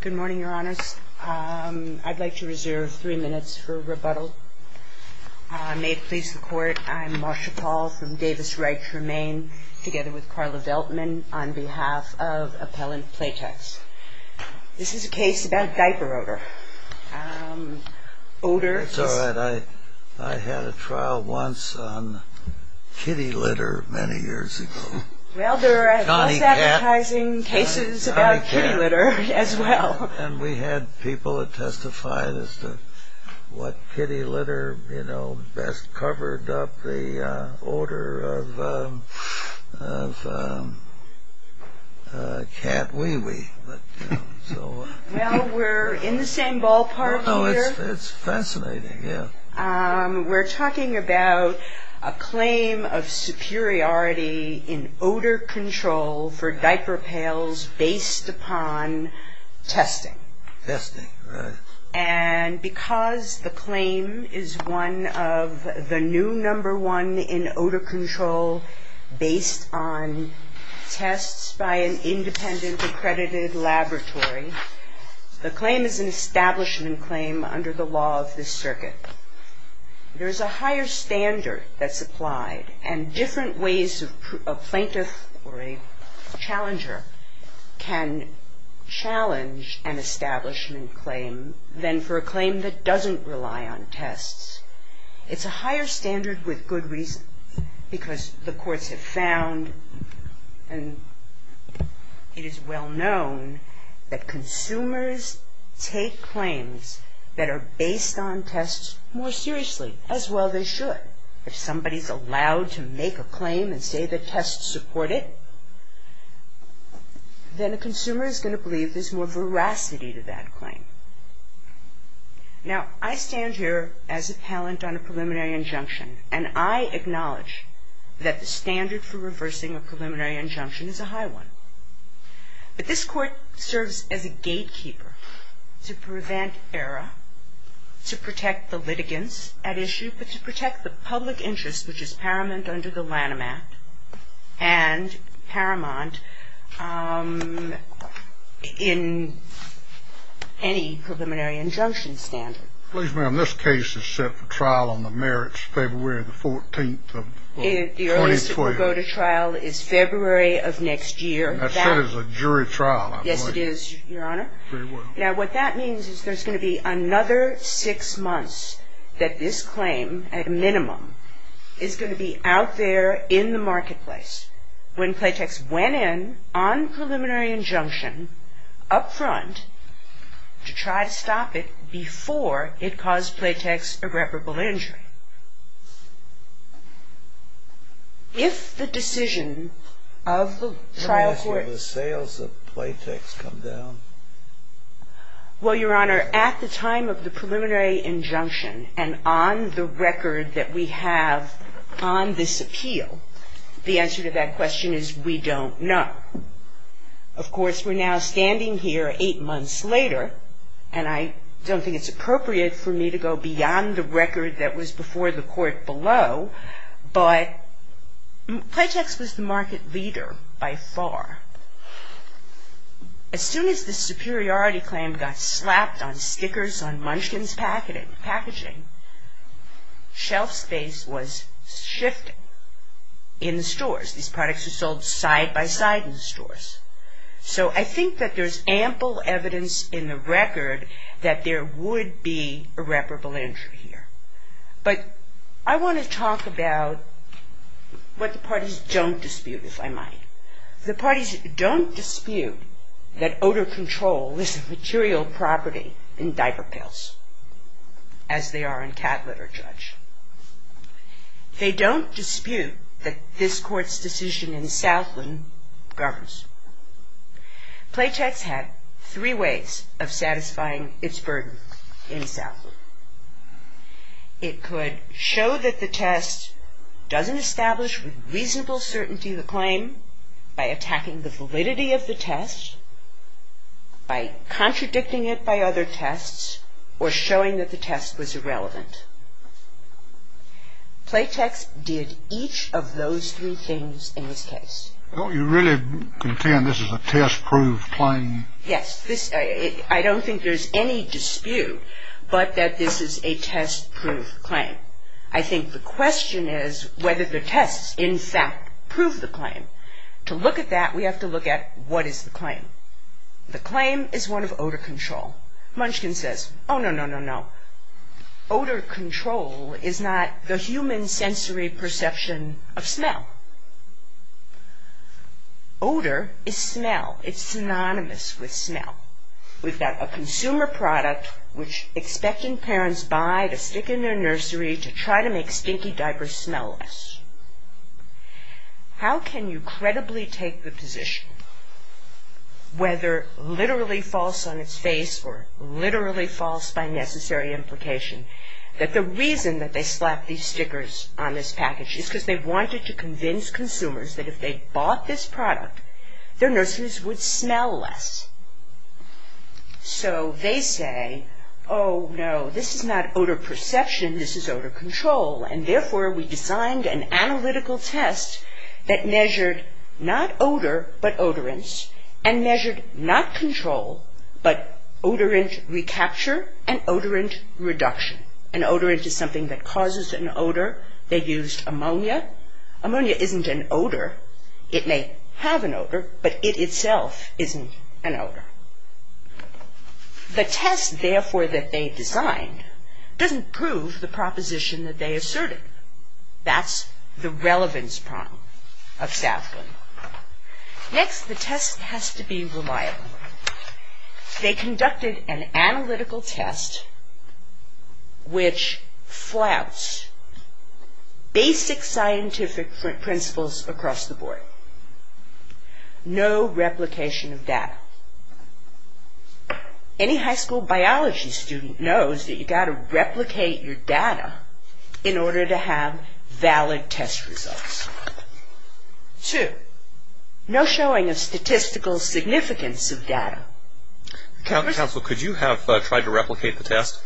Good morning, Your Honors. I'd like to reserve three minutes for rebuttal. May it please the Court, I'm Marsha Paul from Davis-Wright-Tremaine, together with Carla Deltman, on behalf of Appellant Playtex. This is a case about diaper odor. It's all right. I had a trial once on kitty litter many years ago. Well, there are advertising cases about kitty litter as well. And we had people that testified as to what kitty litter, you know, best covered up the odor of cat wee-wee. Well, we're in the same ballpark here. It's fascinating, yeah. We're talking about a claim of superiority in odor control for diaper pails based upon testing. Testing, right. And because the claim is one of the new number one in odor control based on tests by an independent accredited laboratory, the claim is an establishment claim under the law of this circuit. There's a higher standard that's applied and different ways a plaintiff or a challenger can challenge an establishment claim than for a claim that doesn't rely on tests. It's a higher standard with good reason, because the courts have found and it is well known that consumers take claims that are based on tests more seriously, as well they should. If somebody's allowed to make a claim and say the tests support it, then a consumer is going to believe there's more veracity to that claim. Now, I stand here as a palant on a preliminary injunction and I acknowledge that the standard for reversing a preliminary injunction is a high one. But this court serves as a gatekeeper to prevent error, to protect the litigants at issue, but to protect the public interest, which is paramount under the Lanham Act and paramount in any preliminary injunction standard. Please, ma'am, this case is set for trial on the merits February the 14th of 2012. The earliest it will go to trial is February of next year. That's set as a jury trial, I believe. Yes, it is, Your Honor. Very well. Now, what that means is there's going to be another six months that this claim, at a minimum, is going to be out there in the marketplace when Playtex went in on preliminary injunction up front to try to stop it before it caused Playtex irreparable injury. If the decision of the trial court… And that's where the sales of Playtex come down? Well, Your Honor, at the time of the preliminary injunction and on the record that we have on this appeal, the answer to that question is we don't know. Of course, we're now standing here eight months later, and I don't think it's appropriate for me to go beyond the record that was before the court below, but Playtex was the market leader by far. As soon as this superiority claim got slapped on stickers on Munchkin's packaging, shelf space was shifting in the stores. These products were sold side by side in the stores. So I think that there's ample evidence in the record that there would be irreparable injury here. But I want to talk about what the parties don't dispute, if I might. The parties don't dispute that odor control is a material property in diaper pills, as they are in Catlett or Judge. They don't dispute that this court's decision in Southland governs. Playtex had three ways of satisfying its burden in Southland. It could show that the test doesn't establish with reasonable certainty the claim by attacking the validity of the test, by contradicting it by other tests, or showing that the test was irrelevant. Playtex did each of those three things in this case. Don't you really contend this is a test-proof claim? Yes. I don't think there's any dispute, but that this is a test-proof claim. I think the question is whether the tests, in fact, prove the claim. To look at that, we have to look at what is the claim. The claim is one of odor control. Munchkin says, oh, no, no, no, no. Odor control is not the human sensory perception of smell. Odor is smell. It's synonymous with smell. We've got a consumer product which expecting parents buy to stick in their nursery to try to make stinky diapers smell less. How can you credibly take the position, whether literally false on its face or literally false by necessary implication, that the reason that they slapped these stickers on this package is because they wanted to convince consumers that if they bought this product, their nurses would smell less. So they say, oh, no, this is not odor perception, this is odor control, and therefore we designed an analytical test that measured not odor, but odorants, and measured not control, but odorant recapture and odorant reduction. An odorant is something that causes an odor. They used ammonia. Ammonia isn't an odor. It may have an odor, but it itself isn't an odor. The test, therefore, that they designed doesn't prove the proposition that they asserted. That's the relevance problem of Statham. Next, the test has to be reliable. They conducted an analytical test which flouts basic scientific principles across the board. No replication of data. Any high school biology student knows that you've got to replicate your data in order to have valid test results. Two, no showing of statistical significance of data. Counsel, could you have tried to replicate the test?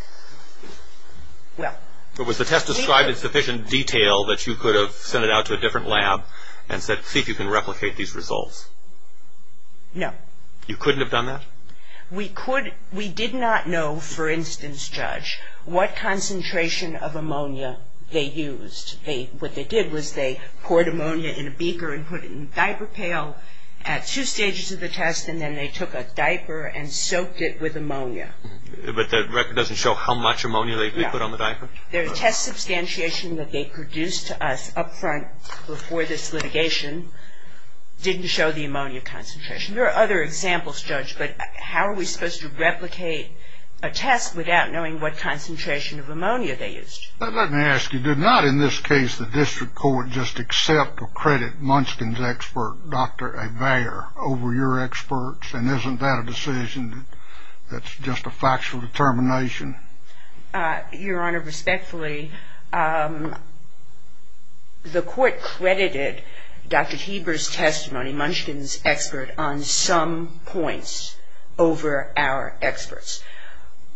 Was the test described in sufficient detail that you could have sent it out to a different lab and said, see if you can replicate these results? No. You couldn't have done that? We did not know, for instance, Judge, what concentration of ammonia they used. What they did was they poured ammonia in a beaker and put it in diaper pail at two stages of the test, and then they took a diaper and soaked it with ammonia. But that record doesn't show how much ammonia they put on the diaper? The test substantiation that they produced to us up front before this litigation didn't show the ammonia concentration. There are other examples, Judge, but how are we supposed to replicate a test without knowing what concentration of ammonia they used? Let me ask you, did not, in this case, the district court just accept or credit Munchkin's expert, Dr. Avaire, over your experts? And isn't that a decision that's just a factual determination? Your Honor, respectfully, the court credited Dr. Heber's testimony, Munchkin's expert, on some points over our experts.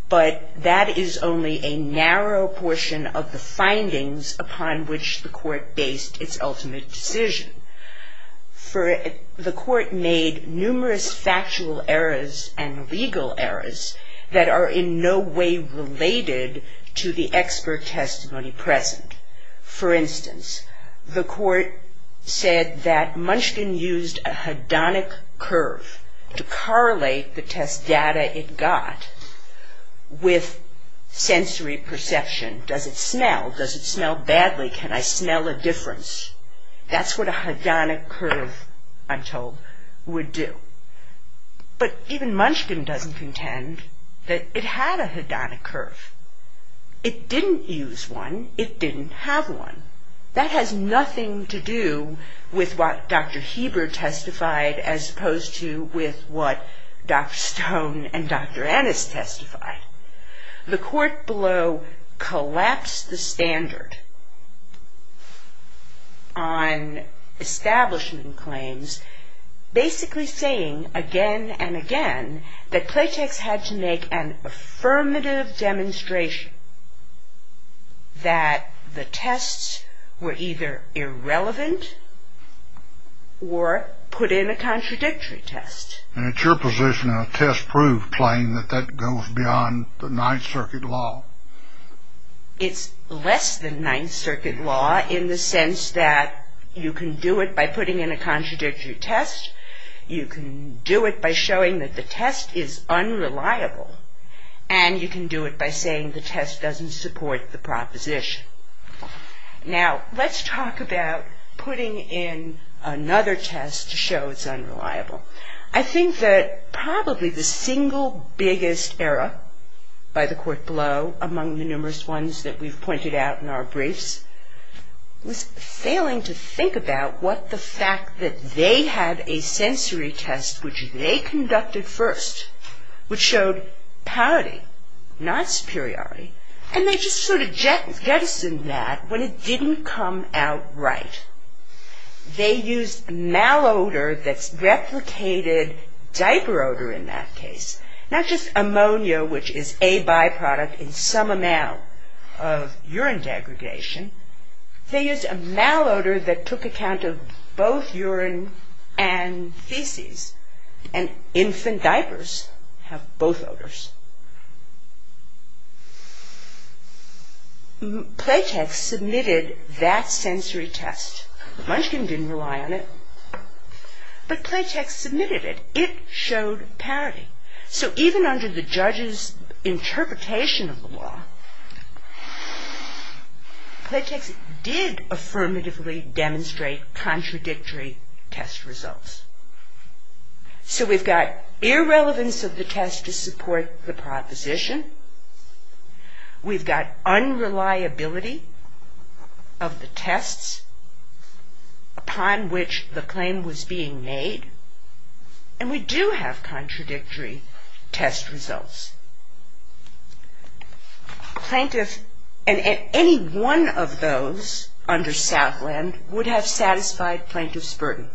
But that is only a narrow portion of the findings upon which the court based its ultimate decision. The court made numerous factual errors and legal errors that are in no way related to the expert testimony present. For instance, the court said that Munchkin used a hedonic curve to correlate the test data it got with sensory perception. Does it smell? Does it smell badly? Can I smell a difference? That's what a hedonic curve, I'm told, would do. But even Munchkin doesn't contend that it had a hedonic curve. It didn't use one. It didn't have one. That has nothing to do with what Dr. Heber testified as opposed to with what Dr. Stone and Dr. Ennis testified. The court below collapsed the standard on establishment claims, basically saying again and again that Claytex had to make an affirmative demonstration that the tests were either irrelevant or put in a contradictory test. And it's your position in a test-proof claim that that goes beyond the Ninth Circuit law. It's less than Ninth Circuit law in the sense that you can do it by putting in a contradictory test, you can do it by showing that the test is unreliable, and you can do it by saying the test doesn't support the proposition. Now, let's talk about putting in another test to show it's unreliable. I think that probably the single biggest error by the court below, among the numerous ones that we've pointed out in our briefs, was failing to think about what the fact that they had a sensory test, which they conducted first, which showed parity, not superiority, and they just sort of jettisoned that when it didn't come out right. They used malodor that's replicated diaper odor in that case, not just ammonia, which is a byproduct in some amount of urine degradation. They used a malodor that took account of both urine and feces, and infant diapers have both odors. Playtex submitted that sensory test. Munchkin didn't rely on it, but Playtex submitted it. It showed parity. So even under the judge's interpretation of the law, Playtex did affirmatively demonstrate contradictory test results. So we've got irrelevance of the test to support the proposition. We've got unreliability of the tests upon which the claim was being made, and we do have contradictory test results. Plaintiff, and any one of those under Southland, would have satisfied plaintiff's burden.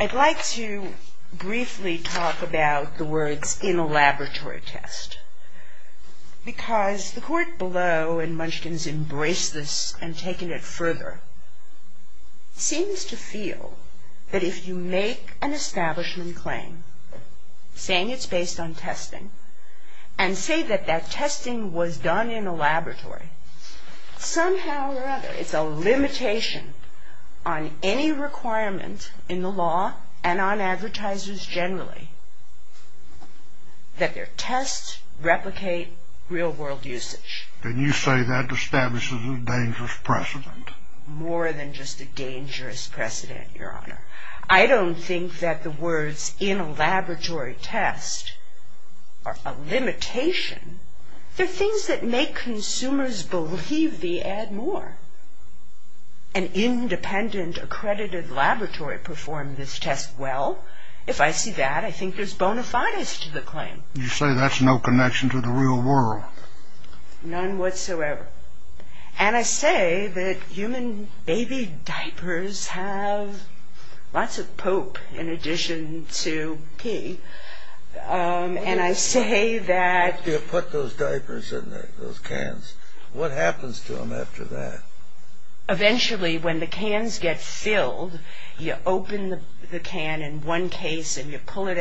I'd like to briefly talk about the words in a laboratory test, because the court below, and Munchkin's embraced this and taken it further, seems to feel that if you make an establishment claim, saying it's based on testing, and say that that testing was done in a laboratory, somehow or other it's a limitation on any requirement in the law, and on advertisers generally, that their tests replicate real-world usage. Then you say that establishes a dangerous precedent. More than just a dangerous precedent, Your Honor. I don't think that the words in a laboratory test are a limitation. They're things that make consumers believe the ad more. An independent, accredited laboratory performed this test well. If I see that, I think there's bona fides to the claim. You say that's no connection to the real world. None whatsoever. And I say that human baby diapers have lots of poop in addition to pee. And I say that... You put those diapers in those cans. What happens to them after that? Eventually, when the cans get filled, you open the can in one case, and you pull it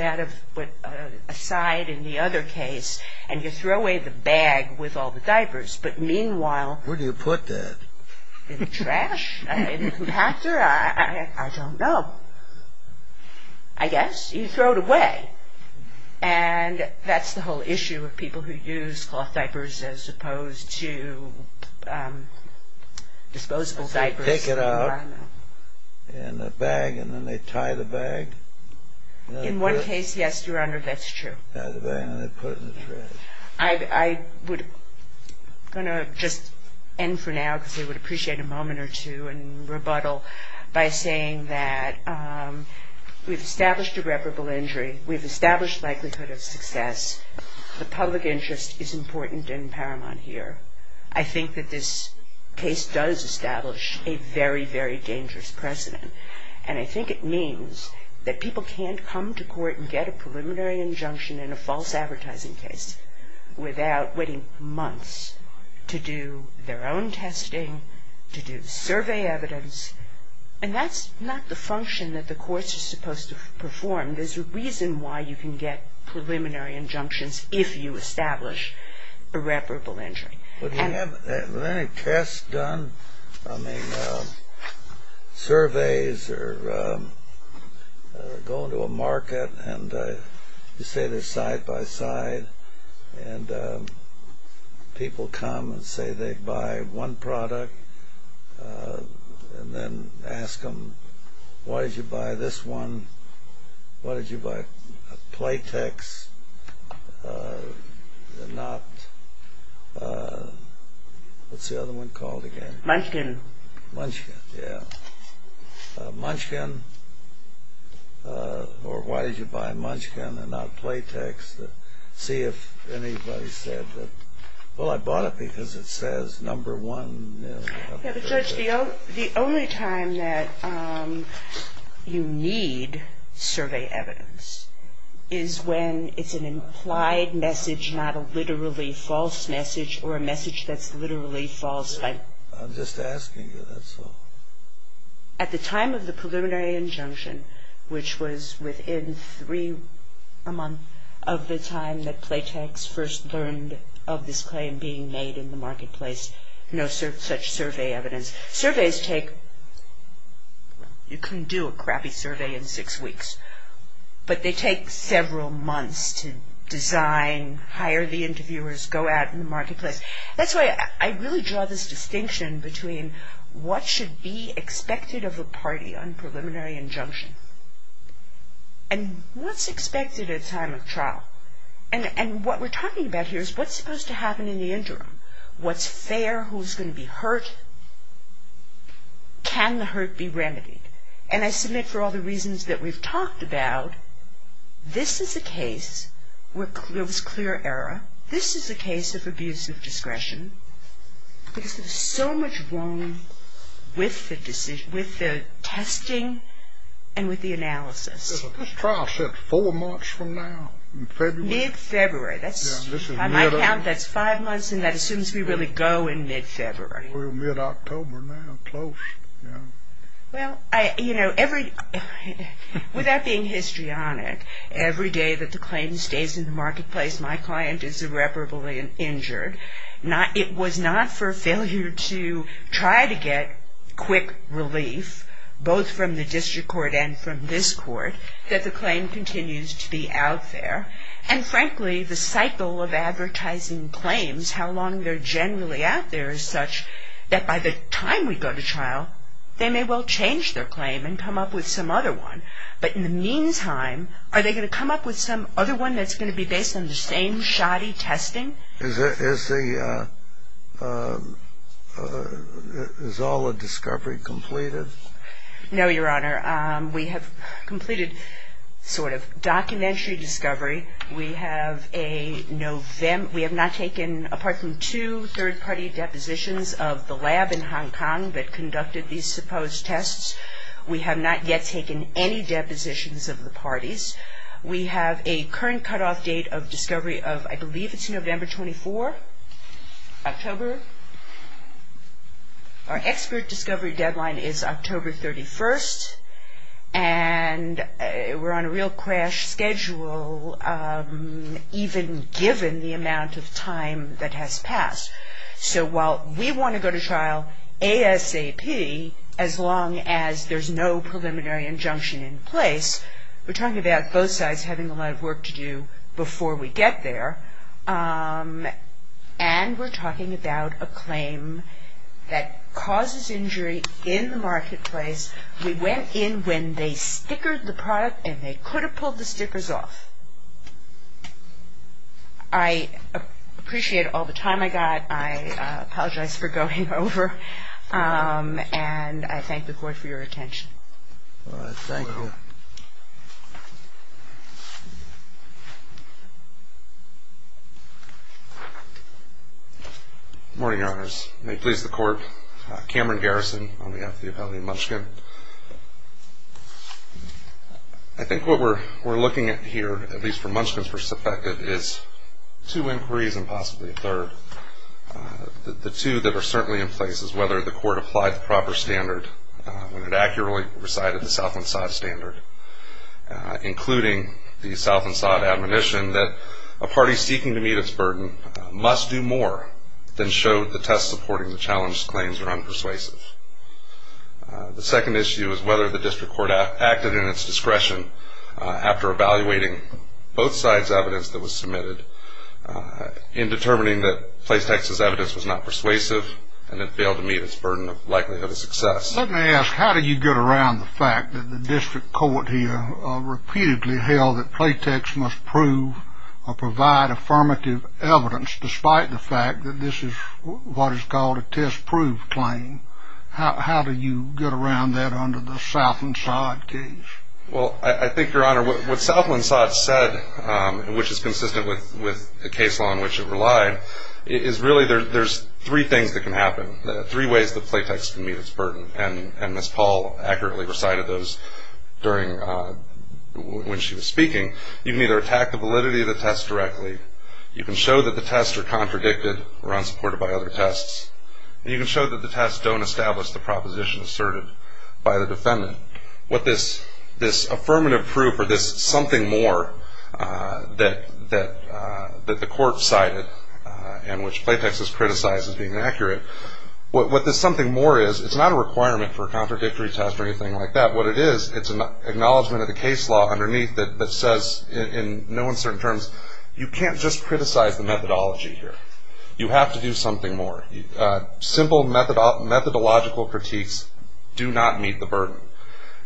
aside in the other case, and you throw away the bag with all the diapers, but meanwhile... Where do you put that? In the trash? In the compactor? I don't know. I guess you throw it away. And that's the whole issue of people who use cloth diapers as opposed to disposable diapers. They take it out in a bag, and then they tie the bag. In one case, yes, Your Honor, that's true. Tie the bag, and they put it in the trash. I'm going to just end for now, because I would appreciate a moment or two, and rebuttal by saying that we've established irreparable injury. We've established likelihood of success. The public interest is important and paramount here. However, I think that this case does establish a very, very dangerous precedent, and I think it means that people can't come to court and get a preliminary injunction in a false advertising case without waiting months to do their own testing, to do survey evidence, and that's not the function that the courts are supposed to perform. There's a reason why you can get preliminary injunctions if you establish irreparable injury. Were there any tests done? I mean, surveys or going to a market, and you say they're side by side, and people come and say they buy one product, and then ask them, why did you buy this one? Why did you buy Playtex and not, what's the other one called again? Munchkin. Munchkin, yeah. Munchkin, or why did you buy Munchkin and not Playtex? See if anybody said that, well, I bought it because it says number one. Judge, the only time that you need survey evidence is when it's an implied message, not a literally false message, or a message that's literally false. I'm just asking you, that's all. At the time of the preliminary injunction, which was within three months of the time that Playtex first learned of this claim being made in the marketplace, no such survey evidence. Surveys take, you can do a crappy survey in six weeks, but they take several months to design, hire the interviewers, go out in the marketplace. That's why I really draw this distinction between what should be expected of a party on preliminary injunction, and what's expected at time of trial. And what we're talking about here is what's supposed to happen in the interim. What's fair, who's going to be hurt, can the hurt be remedied? And I submit for all the reasons that we've talked about, this is a case where there was clear error. This is a case of abuse of discretion, because there's so much wrong with the testing and with the analysis. This trial's set four months from now, in February. Mid-February. By my count, that's five months, and that assumes we really go in mid-February. We're mid-October now, close. Well, you know, with that being histrionic, every day that the claim stays in the marketplace, my client is irreparably injured. It was not for failure to try to get quick relief, both from the district court and from this court, that the claim continues to be out there. And frankly, the cycle of advertising claims, how long they're generally out there, is such that by the time we go to trial, they may well change their claim and come up with some other one. But in the meantime, are they going to come up with some other one that's going to be based on the same shoddy testing? Is all the discovery completed? No, Your Honor. We have completed sort of documentary discovery. We have not taken, apart from two third-party depositions of the lab in Hong Kong that conducted these supposed tests, we have not yet taken any depositions of the parties. We have a current cutoff date of discovery of, I believe it's November 24, October. Our expert discovery deadline is October 31, and we're on a real crash schedule, even given the amount of time that has passed. So while we want to go to trial ASAP, as long as there's no preliminary injunction in place, we're talking about both sides having a lot of work to do before we get there, and we're talking about a claim that causes injury in the marketplace. We went in when they stickered the product and they could have pulled the stickers off. I appreciate all the time I got. I apologize for going over, and I thank the Court for your attention. Thank you. Good morning, Your Honors. May it please the Court. Cameron Garrison on behalf of the Appellate in Munchkin. I think what we're looking at here, at least from Munchkin's perspective, is two inquiries and possibly a third. The two that are certainly in place is whether the Court applied the proper standard when it accurately recited the South and South standard, including the South and South admonition that a party seeking to meet its burden must do more than show the test supporting the challenge's claims are unpersuasive. The second issue is whether the District Court acted in its discretion after evaluating both sides' evidence that was submitted in determining that Playtex's evidence was not persuasive and it failed to meet its burden of likelihood of success. Let me ask, how do you get around the fact that the District Court here repeatedly held that Playtex must prove or provide affirmative evidence despite the fact that this is what is called a test-proof claim? How do you get around that under the Southland-Sod case? Well, I think, Your Honor, what Southland-Sod said, which is consistent with the case law on which it relied, is really there's three things that can happen, three ways that Playtex can meet its burden, and Ms. Paul accurately recited those during when she was speaking. You can either attack the validity of the test directly, you can show that the tests are contradicted or unsupported by other tests, and you can show that the tests don't establish the proposition asserted by the defendant. What this affirmative proof or this something more that the court cited and which Playtex has criticized as being inaccurate, what this something more is, it's not a requirement for a contradictory test or anything like that. What it is, it's an acknowledgment of the case law underneath that says in no uncertain terms, you can't just criticize the methodology here. You have to do something more. Simple methodological critiques do not meet the burden.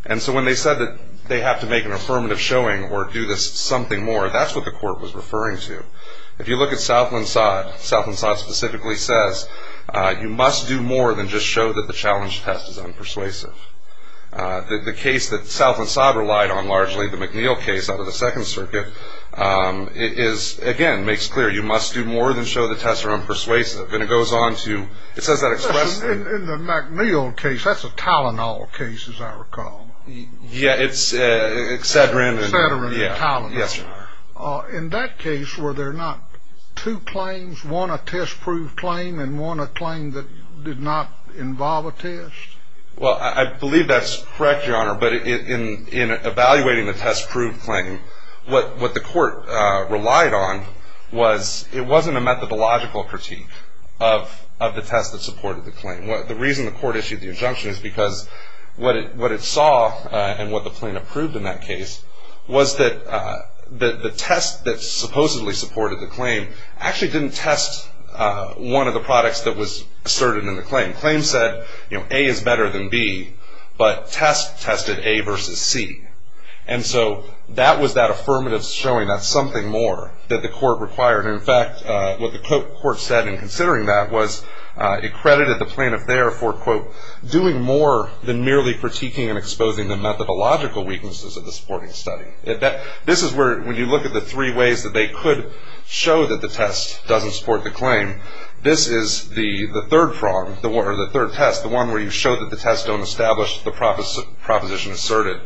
And so when they said that they have to make an affirmative showing or do this something more, that's what the court was referring to. If you look at Southland-Sod, Southland-Sod specifically says, you must do more than just show that the challenge test is unpersuasive. The case that Southland-Sod relied on, largely the McNeil case out of the Second Circuit, it is, again, makes clear you must do more than show the tests are unpersuasive. And it goes on to, it says that expressly. In the McNeil case, that's a Tylenol case, as I recall. Yeah, it's Excedrin. Excedrin and Tylenol. Yes, sir. In that case, were there not two claims, one a test-proved claim and one a claim that did not involve a test? Well, I believe that's correct, Your Honor. But in evaluating the test-proved claim, what the court relied on was it wasn't a methodological critique of the test that supported the claim. The reason the court issued the injunction is because what it saw and what the plaintiff proved in that case was that the test that supposedly supported the claim actually didn't test one of the products that was asserted in the claim. Claim said, you know, A is better than B, but test tested A versus C. And so that was that affirmative showing that's something more that the court required. In fact, what the court said in considering that was it credited the plaintiff there for, quote, doing more than merely critiquing and exposing the methodological weaknesses of the supporting study. This is where, when you look at the three ways that they could show that the test doesn't support the claim, this is the third test, the one where you show that the test don't establish the proposition asserted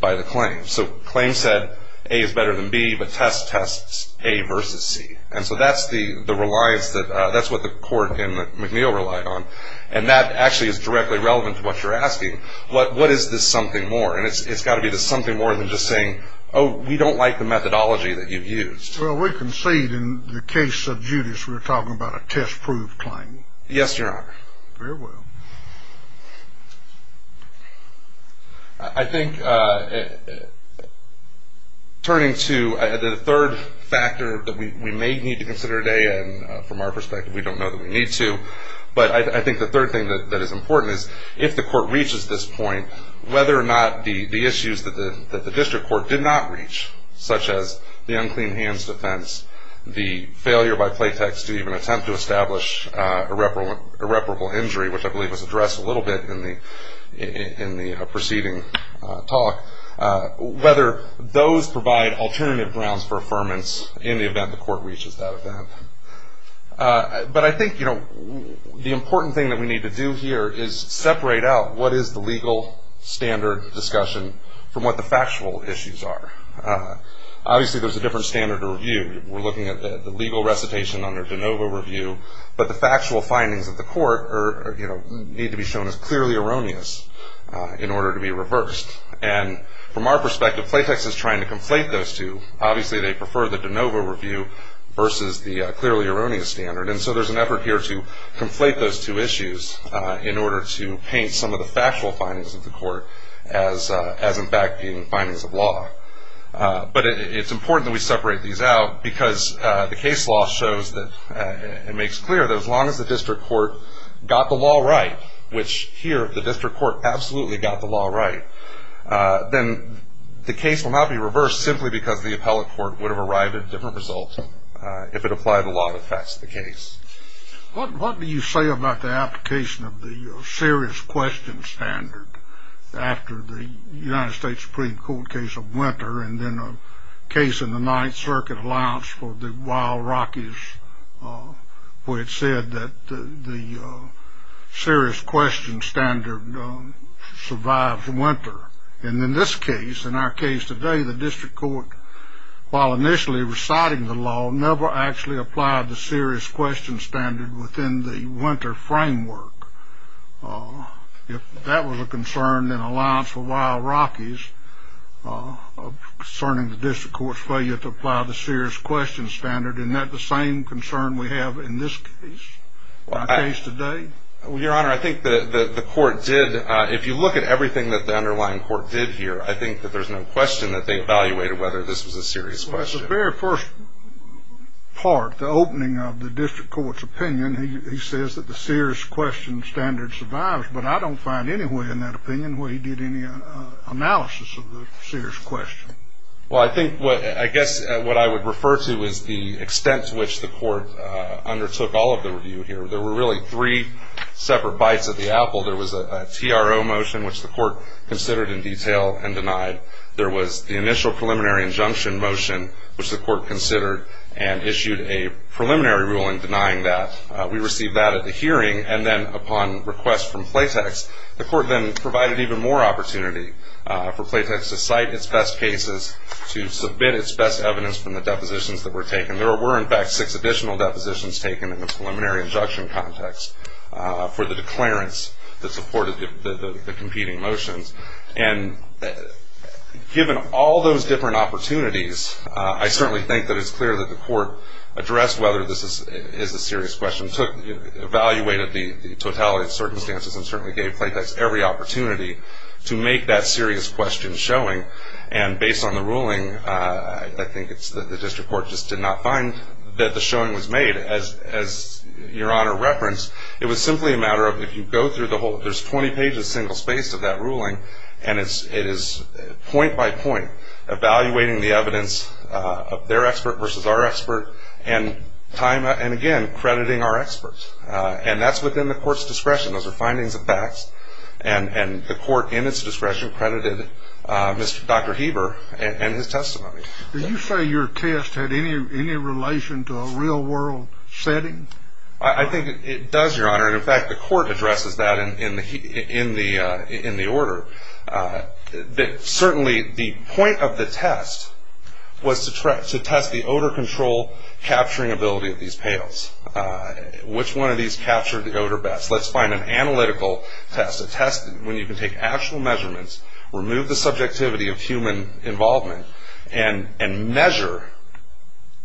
by the claim. So claim said, A is better than B, but test tests A versus C. And so that's the reliance that, that's what the court in McNeil relied on. And that actually is directly relevant to what you're asking. What is this something more? And it's got to be this something more than just saying, oh, we don't like the methodology that you've used. Well, we concede in the case of Judas we're talking about a test-proved claim. Yes, Your Honor. Very well. I think turning to the third factor that we may need to consider today, and from our perspective we don't know that we need to, but I think the third thing that is important is if the court reaches this point, whether or not the issues that the district court did not reach, such as the unclean hands defense, the failure by play text to even attempt to establish irreparable injury, which I believe was addressed a little bit in the preceding talk, whether those provide alternative grounds for affirmance in the event the court reaches that event. But I think the important thing that we need to do here is separate out what is the legal standard discussion from what the factual issues are. Obviously, there's a different standard of review. We're looking at the legal recitation under de novo review, but the factual findings of the court need to be shown as clearly erroneous in order to be reversed. And from our perspective, play text is trying to conflate those two. Obviously, they prefer the de novo review versus the clearly erroneous standard, and so there's an effort here to conflate those two issues in order to paint some of the factual findings of the court as in fact being findings of law. But it's important that we separate these out because the case law shows that it makes clear that as long as the district court got the law right, which here the district court absolutely got the law right, then the case will not be reversed simply because the appellate court would have arrived at a different result if it applied the law that affects the case. What do you say about the application of the serious question standard after the United States Supreme Court case of Winter and then a case in the Ninth Circuit Alliance for the Wild Rockies where it said that the serious question standard survives winter? And in this case, in our case today, the district court, while initially reciting the law, never actually applied the serious question standard within the winter framework. If that was a concern in the Alliance for the Wild Rockies concerning the district court's failure to apply the serious question standard, isn't that the same concern we have in this case, in our case today? Well, Your Honor, I think the court did. If you look at everything that the underlying court did here, I think that there's no question that they evaluated whether this was a serious question. In the very first part, the opening of the district court's opinion, he says that the serious question standard survives, but I don't find any way in that opinion where he did any analysis of the serious question. Well, I guess what I would refer to is the extent to which the court undertook all of the review here. There were really three separate bites at the apple. There was a TRO motion, which the court considered in detail and denied. There was the initial preliminary injunction motion, which the court considered and issued a preliminary ruling denying that. We received that at the hearing, and then upon request from PLATEX, the court then provided even more opportunity for PLATEX to cite its best cases, to submit its best evidence from the depositions that were taken. There were, in fact, six additional depositions taken in the preliminary injunction context for the declarants that supported the competing motions. And given all those different opportunities, I certainly think that it's clear that the court addressed whether this is a serious question, evaluated the totality of circumstances, and certainly gave PLATEX every opportunity to make that serious question showing. And based on the ruling, I think it's that the district court just did not find that the showing was made. As Your Honor referenced, it was simply a matter of, if you go through the whole, there's 20 pages single spaced of that ruling, and it is point by point evaluating the evidence of their expert versus our expert and, again, crediting our experts. And that's within the court's discretion. Those are findings of facts, and the court, in its discretion, credited Dr. Heber and his testimony. Did you say your test had any relation to a real world setting? I think it does, Your Honor. In fact, the court addresses that in the order. Certainly, the point of the test was to test the odor control capturing ability of these pails. Which one of these captured the odor best? Let's find an analytical test, a test when you can take actual measurements, remove the subjectivity of human involvement, and measure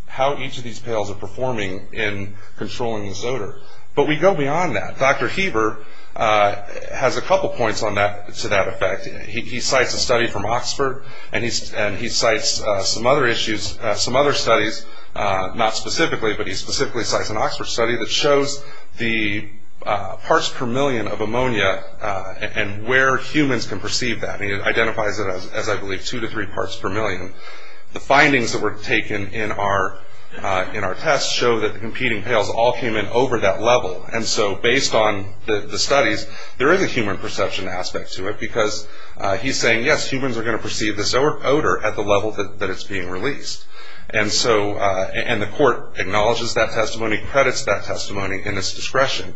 how each of these pails are performing in controlling this odor. But we go beyond that. Dr. Heber has a couple points to that effect. He cites a study from Oxford, and he cites some other issues, some other studies, not specifically, but he specifically cites an Oxford study that shows the parts per million of ammonia and where humans can perceive that. And he identifies it as, I believe, two to three parts per million. The findings that were taken in our test show that the competing pails all came in over that level. And so based on the studies, there is a human perception aspect to it, because he's saying, yes, humans are going to perceive this odor at the level that it's being released. And the court acknowledges that testimony, credits that testimony in its discretion.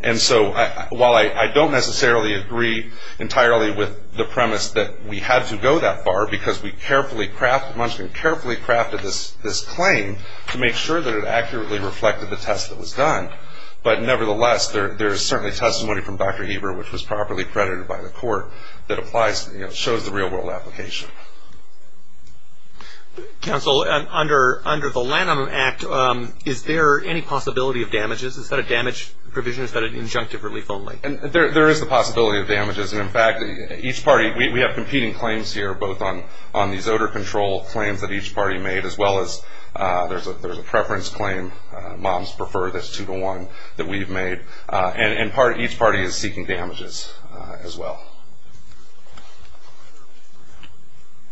And so while I don't necessarily agree entirely with the premise that we had to go that far, because we carefully crafted this claim to make sure that it accurately reflected the test that was done. But nevertheless, there is certainly testimony from Dr. Heber, which was properly credited by the court, that applies, you know, shows the real-world application. Counsel, under the Lanham Act, is there any possibility of damages? Is that a damage provision? Is that an injunctive relief only? There is the possibility of damages. And in fact, each party, we have competing claims here, both on these odor control claims that each party made, as well as there's a preference claim, moms prefer this two to one that we've made. And each party is seeking damages as well.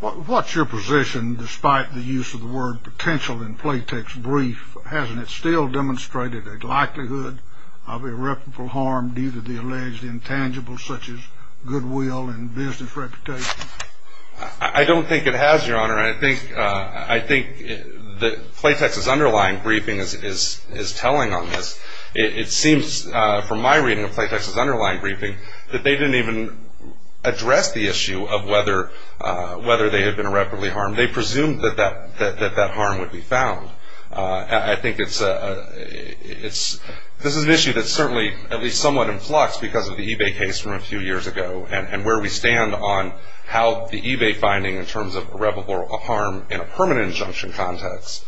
What's your position, despite the use of the word potential in Playtex's brief? Hasn't it still demonstrated a likelihood of irreparable harm due to the alleged intangibles, such as goodwill and business reputation? I don't think it has, Your Honor. I think that Playtex's underlying briefing is telling on this. It seems from my reading of Playtex's underlying briefing, that they didn't even address the issue of whether they had been irreparably harmed. They presumed that that harm would be found. I think this is an issue that's certainly at least somewhat in flux because of the eBay case from a few years ago, and where we stand on how the eBay finding in terms of irreparable harm in a permanent injunction context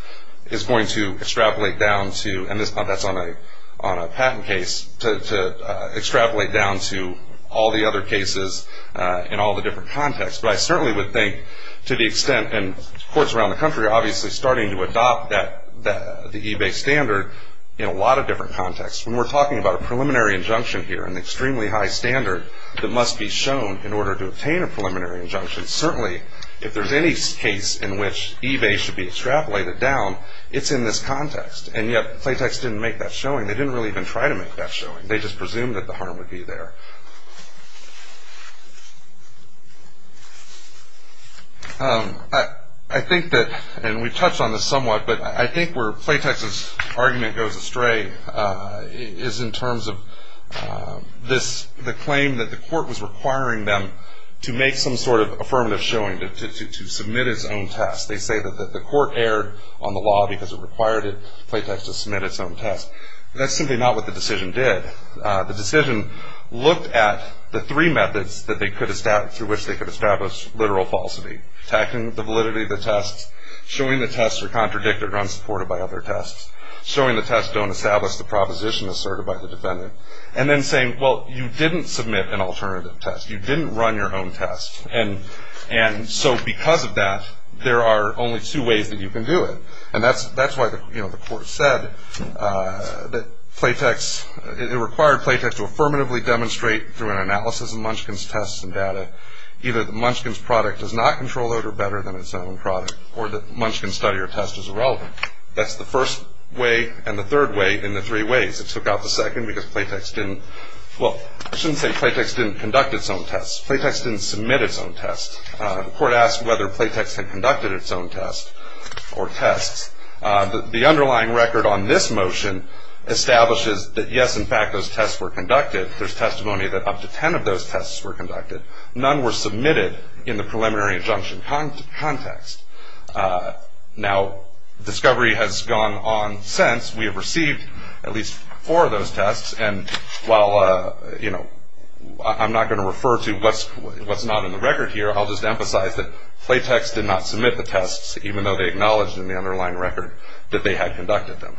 is going to extrapolate down to, and that's on a patent case, to extrapolate down to all the other cases in all the different contexts. But I certainly would think to the extent, and courts around the country are obviously starting to adopt the eBay standard in a lot of different contexts. When we're talking about a preliminary injunction here, an extremely high standard, that must be shown in order to obtain a preliminary injunction, certainly if there's any case in which eBay should be extrapolated down, it's in this context. And yet Playtex didn't make that showing. They didn't really even try to make that showing. They just presumed that the harm would be there. I think that, and we've touched on this somewhat, but I think where Playtex's argument goes astray is in terms of the claim that the court was requiring them to make some sort of affirmative showing, to submit its own test. They say that the court erred on the law because it required Playtex to submit its own test. That's simply not what the decision did. The decision looked at the three methods through which they could establish literal falsity, attacking the validity of the tests, showing the tests are contradicted or unsupported by other tests, showing the tests don't establish the proposition asserted by the defendant, and then saying, well, you didn't submit an alternative test. You didn't run your own test. And so because of that, there are only two ways that you can do it. And that's why the court said that Playtex, it required Playtex to affirmatively demonstrate through an analysis of Munchkin's tests and data either that Munchkin's product does not control odor better than its own product or that Munchkin's study or test is irrelevant. That's the first way and the third way in the three ways. It took out the second because Playtex didn't, well, I shouldn't say Playtex didn't conduct its own tests. Playtex didn't submit its own tests. The court asked whether Playtex had conducted its own tests or tests. The underlying record on this motion establishes that, yes, in fact, those tests were conducted. There's testimony that up to 10 of those tests were conducted. None were submitted in the preliminary injunction context. Now, discovery has gone on since. We have received at least four of those tests. And while, you know, I'm not going to refer to what's not in the record here, I'll just emphasize that Playtex did not submit the tests even though they acknowledged in the underlying record that they had conducted them.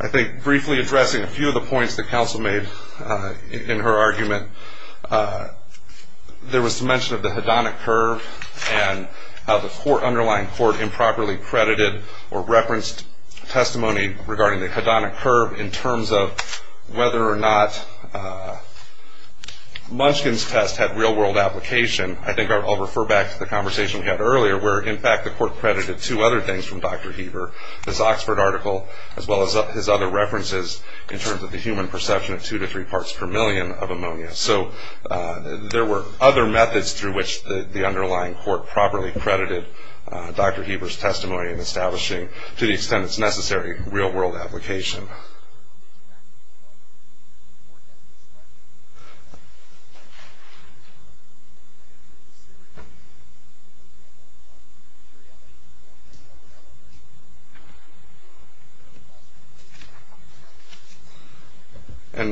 I think briefly addressing a few of the points that counsel made in her argument, there was mention of the hedonic curve and how the underlying court improperly credited or referenced testimony regarding the hedonic curve in terms of whether or not Munchkin's test had real-world application. I think I'll refer back to the conversation we had earlier where, in fact, the court credited two other things from Dr. Heber, his Oxford article as well as his other references in terms of the human perception of two to three parts per million of ammonia. So there were other methods through which the underlying court properly credited Dr. Heber's testimony in establishing, to the extent that's necessary, real-world application. Thank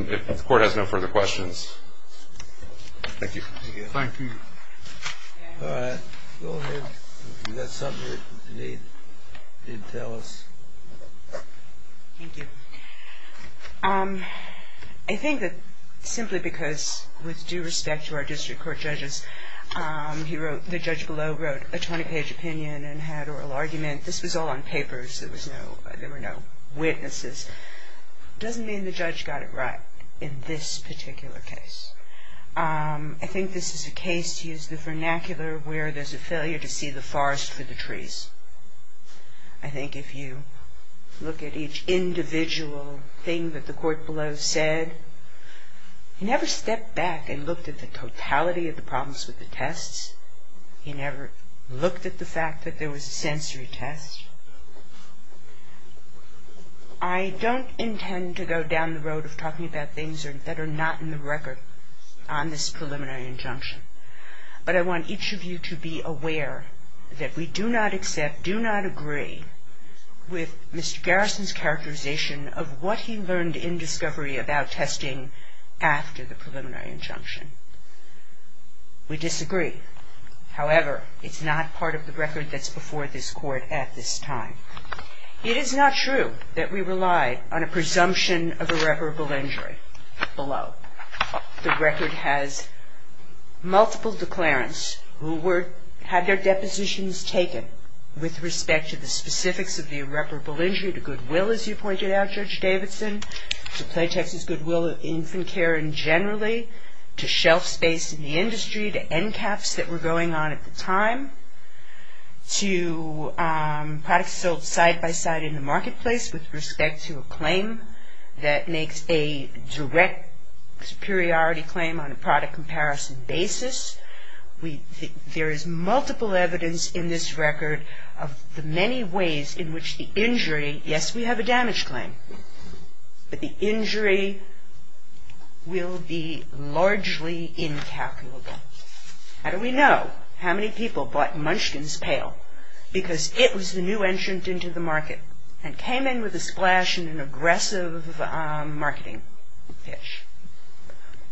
you. And if the court has no further questions. Thank you. Thank you. All right. Go ahead. You got something you need to tell us? Thank you. I think that simply because, with due respect to our district court judges, the judge below wrote a 20-page opinion and had oral argument. This was all on papers. There were no witnesses. It doesn't mean the judge got it right in this particular case. I think this is a case, to use the vernacular, where there's a failure to see the forest for the trees. I think if you look at each individual thing that the court below said, he never stepped back and looked at the totality of the problems with the tests. He never looked at the fact that there was a sensory test. I don't intend to go down the road of talking about things that are not in the record on this preliminary injunction. But I want each of you to be aware that we do not accept, do not agree, with Mr. Garrison's characterization of what he learned in discovery about testing after the preliminary injunction. We disagree. However, it's not part of the record that's before this court at this time. It is not true that we relied on a presumption of irreparable injury below. The record has multiple declarants who had their depositions taken with respect to the specifics of the irreparable injury, to goodwill, as you pointed out, Judge Davidson, to Play, Texas, Goodwill, Infant Care, and generally to shelf space in the industry, to NCAPs that were going on at the time, to products sold side-by-side in the marketplace with respect to a claim that makes a direct superiority claim on a product comparison basis. There is multiple evidence in this record of the many ways in which the injury, yes, we have a damage claim, but the injury will be largely incalculable. How do we know how many people bought Munchkin's pail? Because it was the new entrant into the market and came in with a splash and an aggressive marketing pitch.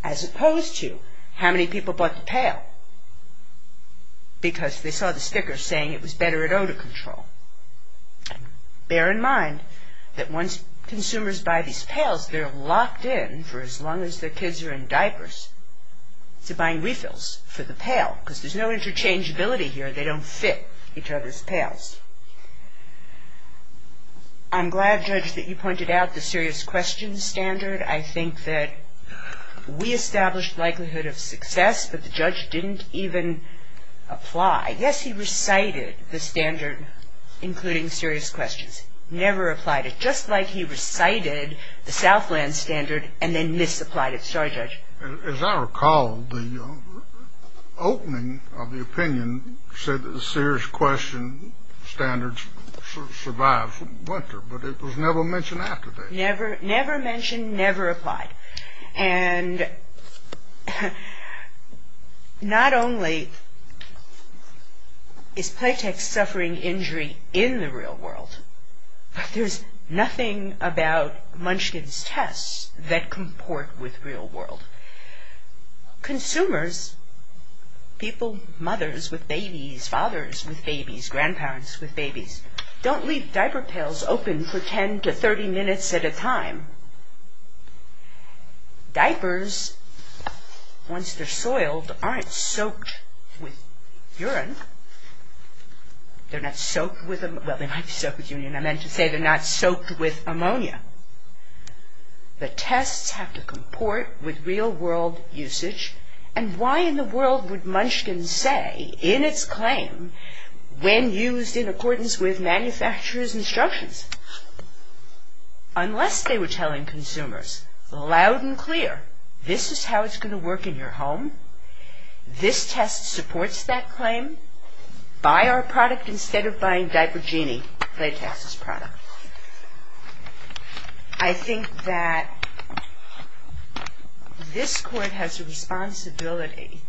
As opposed to how many people bought the pail? Because they saw the sticker saying it was better at odor control. Bear in mind that once consumers buy these pails, they're locked in for as long as their kids are in diapers to buying refills for the pail, because there's no interchangeability here. They don't fit each other's pails. I'm glad, Judge, that you pointed out the serious questions standard. I think that we established likelihood of success, but the judge didn't even apply. Yes, he recited the standard, including serious questions, never applied it, just like he recited the Southland standard and then misapplied it. Sorry, Judge. As I recall, the opening of the opinion said that the serious question standards survive winter, but it was never mentioned after that. Never mentioned, never applied. And not only is Playtex suffering injury in the real world, but there's nothing about Munchkin's tests that comport with real world. Consumers, people, mothers with babies, fathers with babies, grandparents with babies, don't leave diaper pails open for 10 to 30 minutes at a time. Diapers, once they're soiled, aren't soaked with urine. They're not soaked with, well, they might be soaked with urine. I meant to say they're not soaked with ammonia. The tests have to comport with real world usage, and why in the world would Munchkin say in its claim, when used in accordance with manufacturer's instructions, unless they were telling consumers loud and clear, this is how it's going to work in your home. This test supports that claim. Buy our product instead of buying Diaper Genie, Playtex's product. I think that this court has a responsibility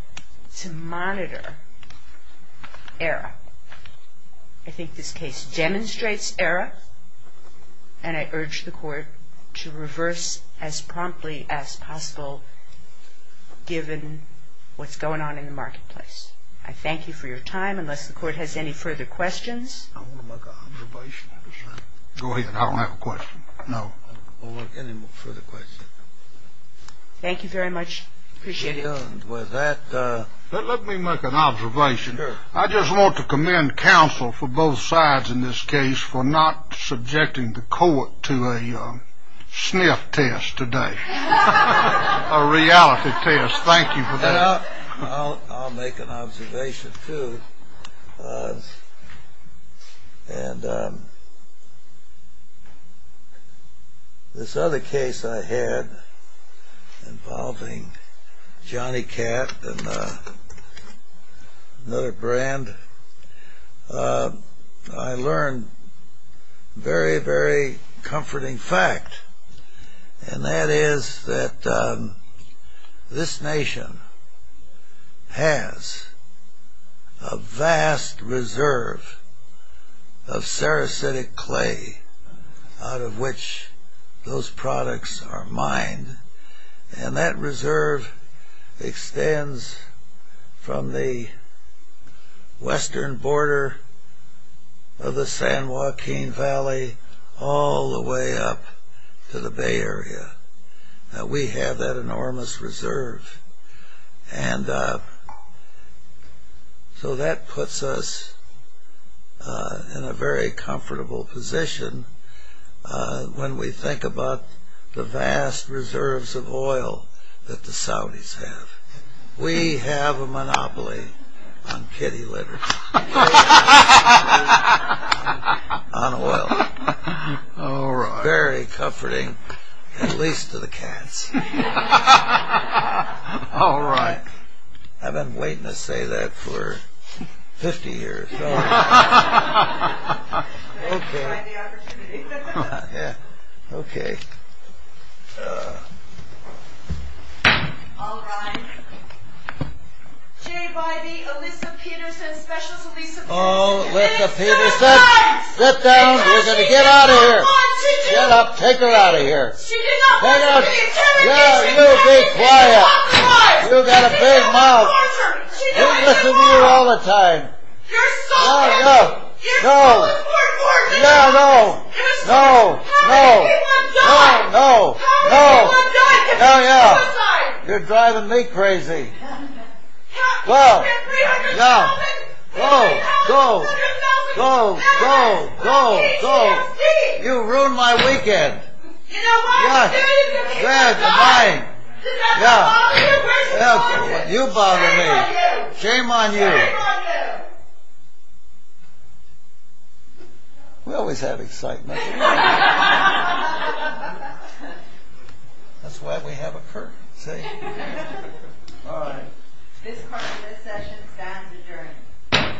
to monitor error. I think this case demonstrates error, and I urge the court to reverse as promptly as possible, given what's going on in the marketplace. I thank you for your time. Unless the court has any further questions. I want to make an observation. Go ahead. I don't have a question. No. I don't want any further questions. Thank you very much. Appreciate it. With that. Let me make an observation. Sure. I just want to commend counsel for both sides in this case for not subjecting the court to a sniff test today, a reality test. Thank you for that. I'll make an observation, too. This other case I had involving Johnny Cat and another brand, I learned a very, very comforting fact, and that is that this nation has a vast reserve of Sarasitic clay out of which those products are mined, and that reserve extends from the western border of the San Joaquin Valley all the way up to the Bay Area. We have that enormous reserve. And so that puts us in a very comfortable position when we think about the vast reserves of oil that the Saudis have. We have a monopoly on kitty litter, on oil. All right. Very comforting, at least to the cats. All right. I've been waiting to say that for 50 years. Okay. Find the opportunity. Yeah. Okay. All right. Jay Bybee, Alyssa Peterson, Specialist of Resupport. Alyssa Peterson, sit down. We're going to get out of here. Get up. Take her out of here. Hang on. You be quiet. You've got a big mouth. We listen to you all the time. No, no. No. Yeah, no. No. No. No. No. No. Hell, yeah. You're driving me crazy. Go. Yeah. Go. Go. Go. Go. Go. Go. Go. You ruined my weekend. What? Yeah, it's mine. Yeah. You bother me. Shame on you. Shame on you. We always have excitement. That's why we have a curtain. See? All right. This part of this session stands adjourned.